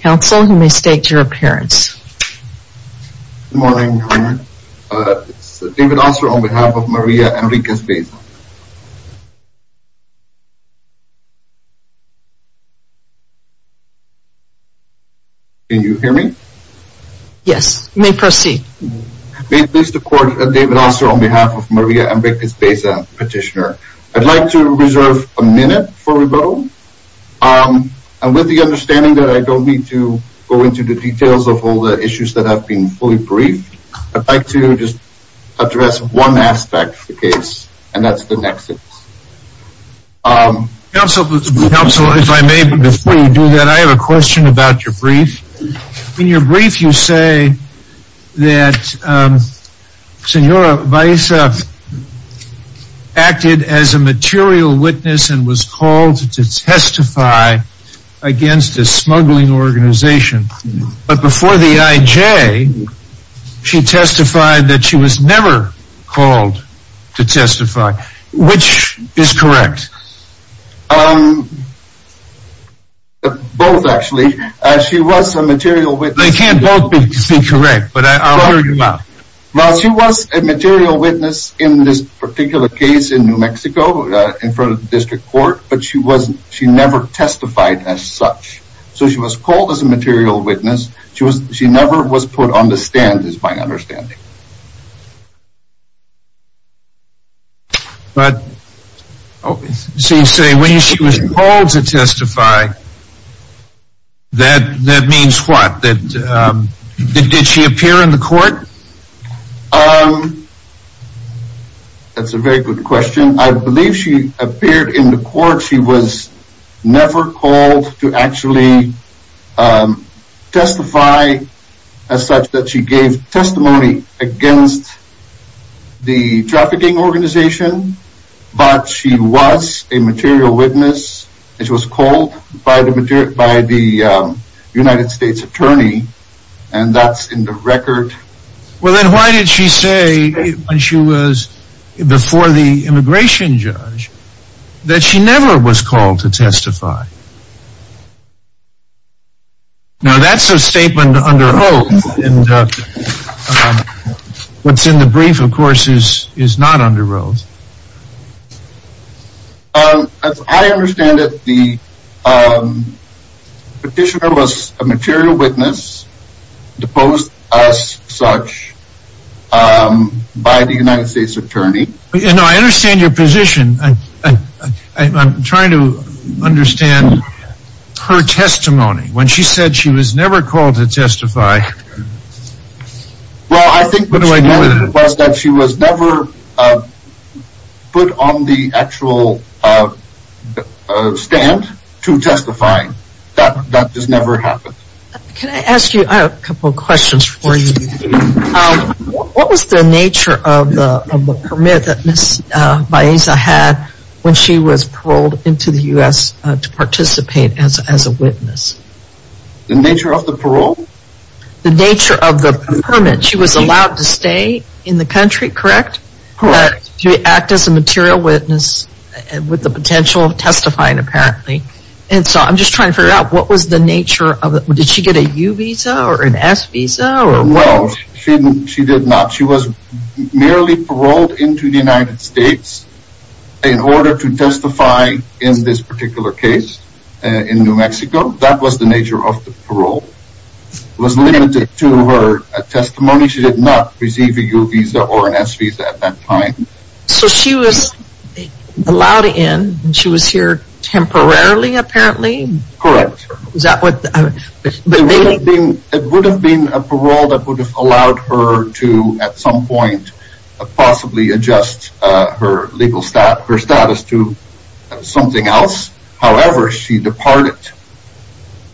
Counsel, you may state your appearance. Good morning, Your Honor. It's David Oster on behalf of Maria Enriquez Baeza. Can you hear me? Yes, you may proceed. May it please the Court, David Oster on behalf of Maria Enriquez Baeza, petitioner. I'd like to reserve a minute for rebuttal. And with the understanding that I don't need to go into the details of all the issues that have been fully briefed, I'd like to just address one aspect of the case, and that's the nexus. Counsel, if I may, before you do that, I have a question about your brief. In your brief, you say that Senora Baeza acted as a material witness and was called to testify against a smuggling organization. But before the IJ, she testified that she was never called to testify. Which is correct? Both, actually. She was a material witness. They can't both be correct, but I'll hear you out. Well, she was a material witness in this particular case in New Mexico, in front of the District Court, but she never testified as such. So she was called as a material witness. She never was put on the stand, is my understanding. But, you say when she was called to testify, that means what? Did she appear in the court? That's a very good question. I believe she appeared in the court. She was never called to actually testify as such, that she gave testimony against the trafficking organization. But she was a material witness, and she was called by the United States Attorney, and that's in the record. Well, then why did she say, when she was before the immigration judge, that she never was called to testify? Now that's a statement under oath, and what's in the brief, of course, is not under oath. I understand that the petitioner was a material witness, deposed as such, by the United States Attorney. I understand your position. I'm trying to understand her testimony. When she said she was never called to testify, what do I do with it? Well, I think what she said was that she was never put on the actual stand to testify. That just never happened. Can I ask you a couple of questions for you? What was the nature of the permit that Ms. Baeza had when she was paroled into the U.S. to participate as a witness? The nature of the parole? The nature of the permit. She was allowed to stay in the country, correct? Correct. To act as a material witness, with the potential of testifying, apparently. And so, I'm just trying to figure out, what was the nature of it? Did she get a U-Visa or an S-Visa? Well, she did not. She was merely paroled into the United States in order to testify in this particular case in New Mexico. That was the nature of the parole. It was limited to her testimony. She did not receive a U-Visa or an S-Visa at that time. So, she was allowed in. She was here temporarily, apparently? Correct. Was that what... It would have been a parole that would have allowed her to, at some point, possibly adjust her legal status to something else. However, she departed,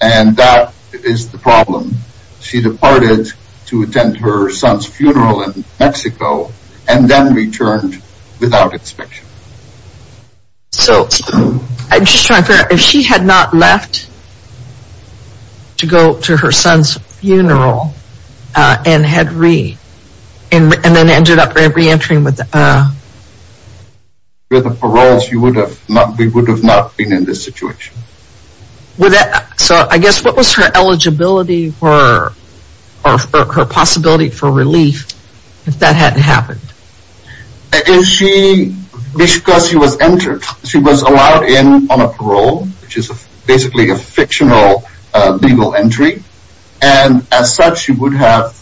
and that is the problem. She departed to attend her son's funeral in Mexico, and then returned without inspection. So, I'm just trying to figure out, if she had not left to go to her son's funeral, and had re... and then ended up re-entering with a... with a parole, she would have not... we would have not been in this situation. Would that... so, I guess, what was her eligibility for... or her possibility for relief, if that hadn't happened? Is she... because she was entered. She was allowed in on a parole, which is basically a fictional legal entry. And, as such, she would have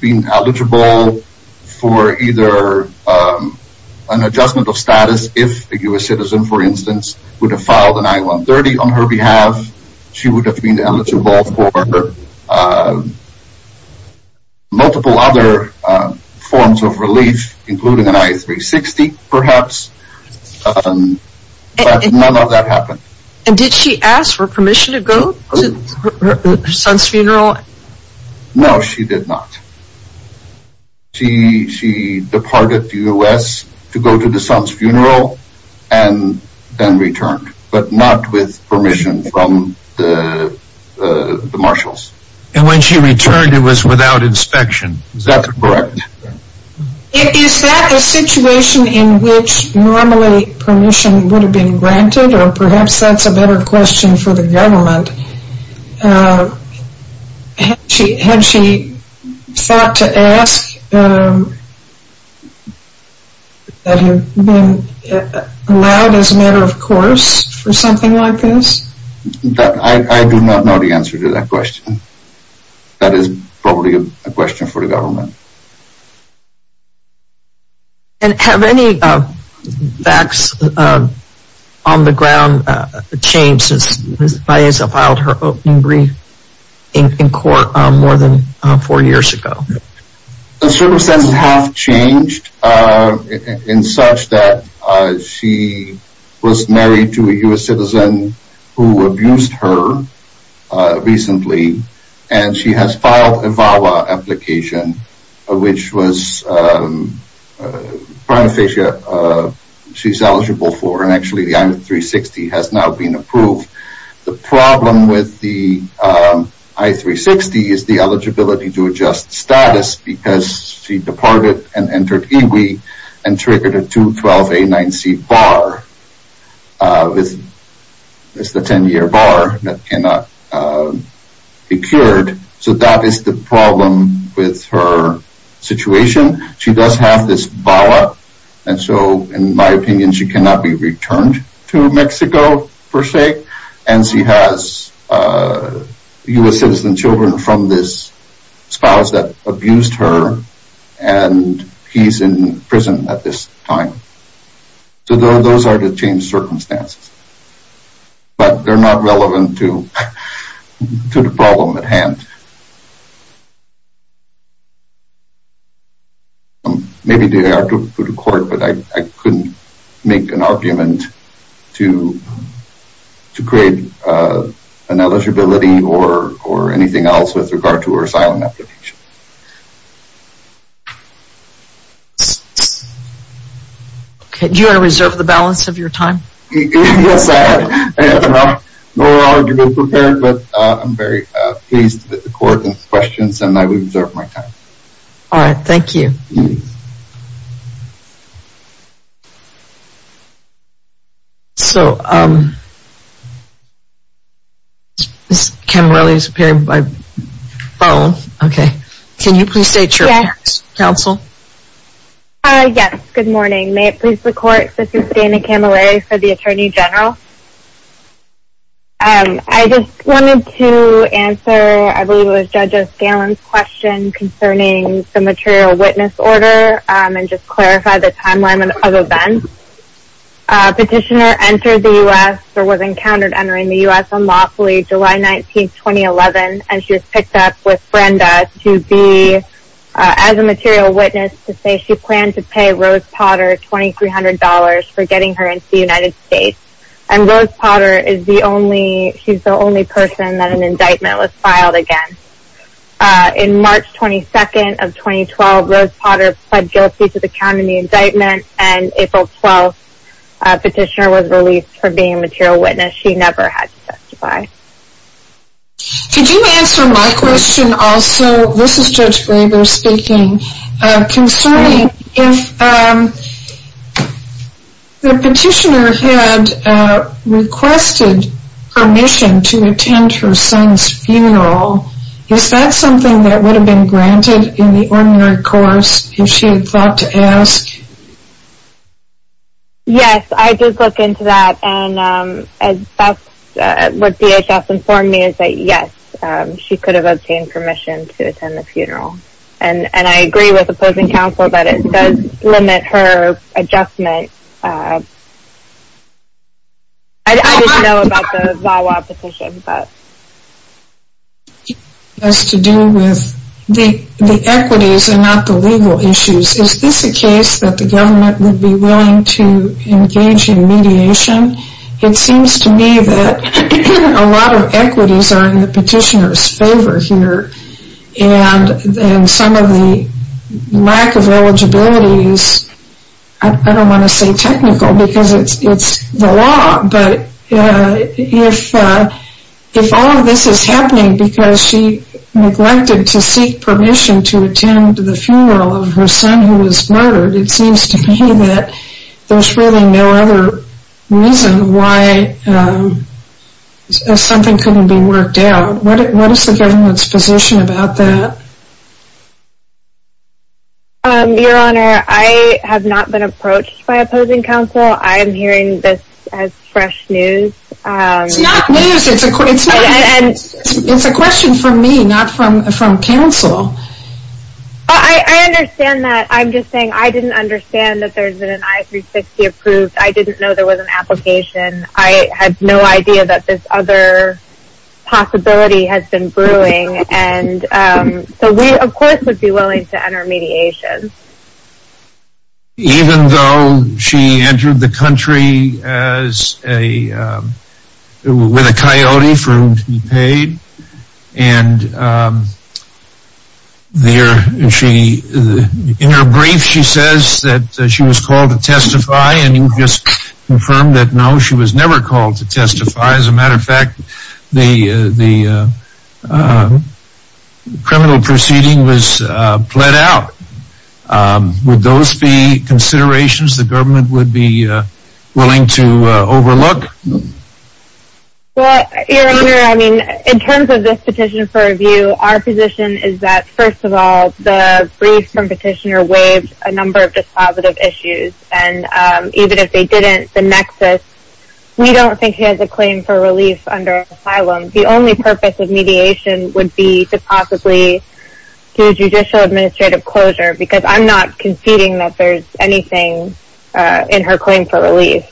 been eligible for either an adjustment of status, if a U.S. citizen, for instance, would have filed an I-130 on her behalf. She would have been eligible for multiple other forms of relief, including an I-360, perhaps. But, none of that happened. And, did she ask for permission to go to her son's funeral? No, she did not. She departed the U.S. to go to the son's funeral, and then returned, but not with permission from the marshals. And, when she returned, it was without inspection? That's correct. Is that a situation in which, normally, permission would have been granted? Or, perhaps, that's a better question for the government. Had she thought to ask that he had been allowed, as a matter of course, for something like this? I do not know the answer to that question. That is probably a question for the government. And, have any facts on the ground changed since Ms. Baeza filed her opening brief in court more than four years ago? Circumstances have changed, in such that she was married to a U.S. citizen who abused her recently. And, she has filed a VAWA application, which was prima facie, she's eligible for. And, actually, the I-360 has now been approved. The problem with the I-360 is the eligibility to adjust status. Because, she departed and entered Iwi, and triggered a 2-12-A-9-C bar. It's the 10-year bar that cannot be cured. So, that is the problem with her situation. She does have this VAWA, and so, in my opinion, she cannot be returned to Mexico, per se. And, she has U.S. citizen children from this spouse that abused her. And, he's in prison at this time. So, those are the changed circumstances. But, they're not relevant to the problem at hand. Maybe they are to go to court, but I couldn't make an argument to create an eligibility or anything else with regard to her asylum application. Do you want to reserve the balance of your time? Yes, I have no argument prepared. But, I'm very pleased with the court's questions, and I will reserve my time. Alright, thank you. So, um... Ms. Camarelli is appearing by phone. Okay. Can you please state your name, counsel? Yes, good morning. May it please the court, this is Dana Camarelli for the Attorney General. Um, I just wanted to answer, I believe it was Judge O'Scallon's question concerning the material witness order, um, and just clarify the timeline of events. A petitioner entered the U.S., or was encountered entering the U.S. unlawfully July 19, 2011, and she was picked up with Brenda to be, as a material witness, to say she planned to pay Rose Potter $2,300 for getting her into the United States. And Rose Potter is the only, she's the only person that an indictment was filed against. Uh, in March 22nd of 2012, Rose Potter pled guilty to the count in the indictment, and April 12th, a petitioner was released for being a material witness. She never had to testify. Could you answer my question also? This is Judge Graber speaking. Concerning, if, um, the petitioner had requested permission to attend her son's funeral, is that something that would have been granted in the ordinary course, if she had thought to ask? Yes, I did look into that, and, um, that's what DHS informed me, is that yes, she could have obtained permission to attend the funeral. And I agree with opposing counsel that it does limit her adjustment. I didn't know about the VAWA petition, but... ...has to do with the equities and not the legal issues. Is this a case that the government would be willing to engage in mediation? It seems to me that a lot of equities are in the petitioner's favor here, and some of the lack of eligibility is, I don't want to say technical, because it's the law, but if all of this is happening because she neglected to seek permission to attend the funeral of her son who was murdered, it seems to me that there's really no other reason why something couldn't be worked out. What is the government's position about that? Your Honor, I have not been approached by opposing counsel. I'm hearing this as fresh news. It's not news, it's a question for me, not from counsel. I understand that. I'm just saying I didn't understand that there's been an I-360 approved. I didn't know there was an application. I had no idea that this other possibility had been brewing, and so we, of course, would be willing to enter mediation. Even though she entered the country with a coyote for whom to be paid, and in her brief she says that she was called to testify, and you just confirmed that no, she was never called to testify. As a matter of fact, the criminal proceeding was plead out. Would those be considerations the government would be willing to overlook? Your Honor, I mean, in terms of this petition for review, our position is that, first of all, the brief from petitioner waived a number of dispositive issues, and even if they didn't, the nexus, we don't think she has a claim for relief under asylum. The only purpose of mediation would be to possibly do judicial administrative closure, because I'm not conceding that there's anything in her claim for relief.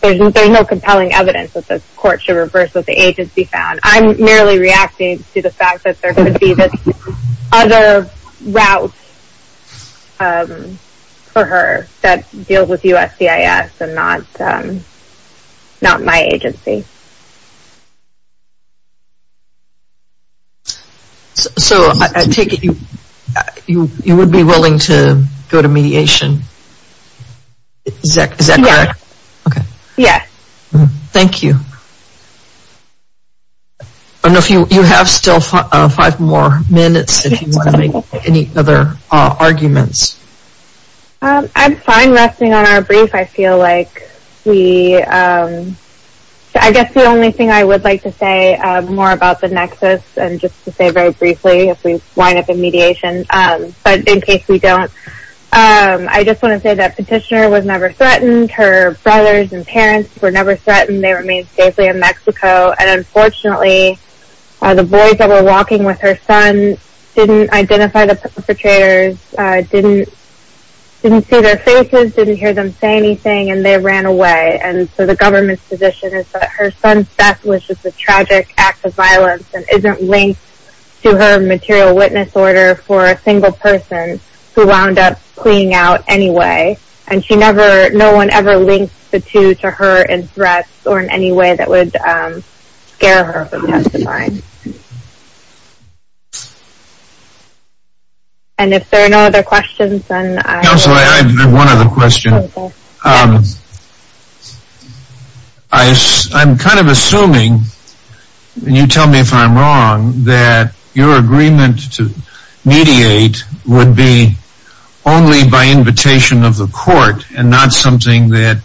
There's no compelling evidence that this court should reverse what the agency found. I'm merely reacting to the fact that there could be this other route for her that deals with USCIS and not my agency. So, I take it you would be willing to go to mediation? Is that correct? Yes. Yes. Thank you. I don't know if you have still five more minutes if you want to make any other arguments. I'm fine resting on our brief. I feel like we, I guess the only thing I would like to say more about the nexus and just to say very briefly if we wind up in mediation, but in case we don't, I just want to say that petitioner was never threatened. Her brothers and parents were never threatened. They remained safely in Mexico, and unfortunately, the boys that were walking with her son didn't identify the perpetrators, didn't see their faces, didn't hear them say anything, and they ran away. And so, the government's position is that her son's death was just a tragic act of violence and isn't linked to her material witness order for a single person who wound up fleeing out anyway. And she never, no one ever linked the two to her in threats or in any way that would scare her from testifying. And if there are no other questions, then I... Counselor, I have one other question. I'm kind of assuming, and you tell me if I'm wrong, that your agreement to mediate would be only by invitation of the court and not something that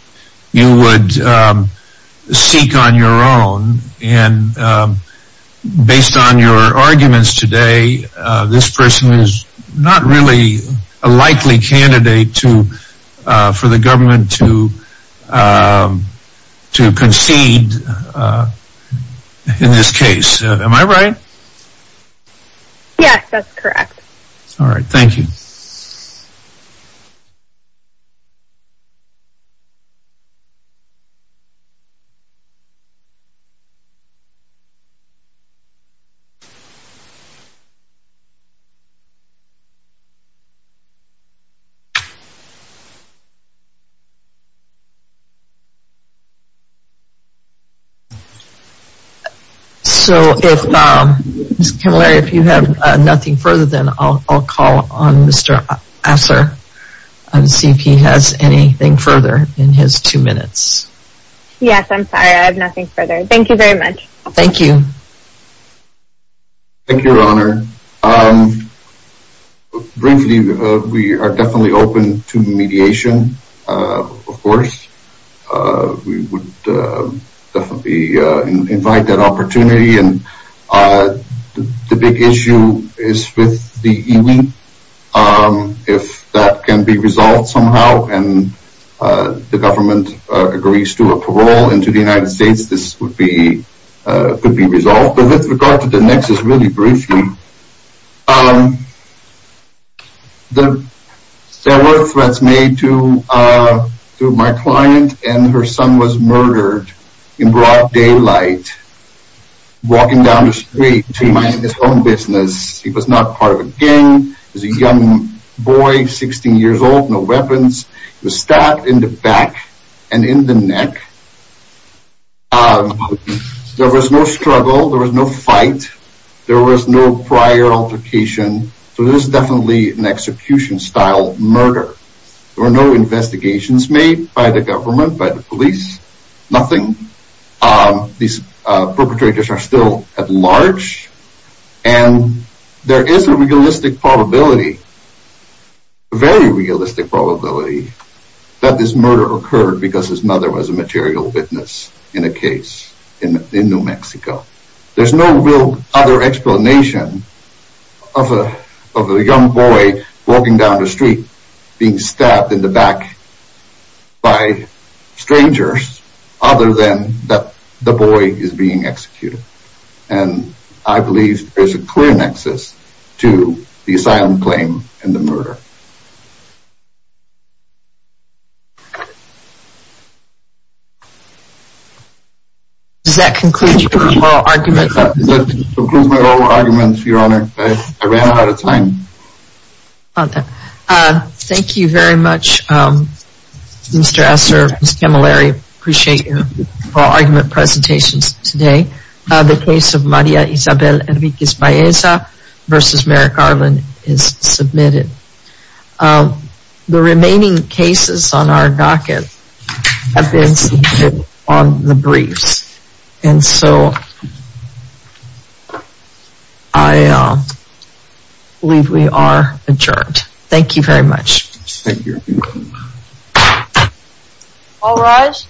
you would seek on your own. And based on your arguments today, this person is not really a likely candidate for the government to concede in this case. Am I right? Yes, that's correct. Alright, thank you. Thank you. So, if... Ms. Kamilari, if you have nothing further, then I'll call on Mr. Assar and see if he has anything further in his two minutes. Yes, I'm sorry, I have nothing further. Thank you very much. Thank you. Thank you, Your Honor. Briefly, we are definitely open to mediation, of course. We would definitely invite that opportunity. The big issue is with the Iwi. If that can be resolved somehow, and the government agrees to a parole into the United States, this could be resolved. But with regard to the nexus, really briefly, there were threats made to my client, and her son was murdered in broad daylight, walking down the street to his home business. He was not part of a gang. He was a young boy, 16 years old, no weapons. He was stabbed in the back and in the neck. There was no struggle. There was no fight. There was no prior altercation. So this is definitely an execution-style murder. There were no investigations made by the government, by the police. Nothing. These perpetrators are still at large. And there is a realistic probability, a very realistic probability, that this murder occurred because his mother was a material witness in a case in New Mexico. There's no real other explanation of a young boy walking down the street, being stabbed in the back by strangers, other than that the boy is being executed. And I believe there is a clear nexus to the asylum claim and the murder. Does that conclude your oral argument? That concludes my oral argument, Your Honor. I ran out of time. Thank you very much, Mr. Asser, Ms. Camilleri. I appreciate your oral argument presentations today. The case of Maria Isabel Enriquez Baeza versus Merrick Garland is submitted. The remaining cases on our docket have been submitted on the briefs. And so I believe we are adjourned. Thank you very much. Thank you. All rise.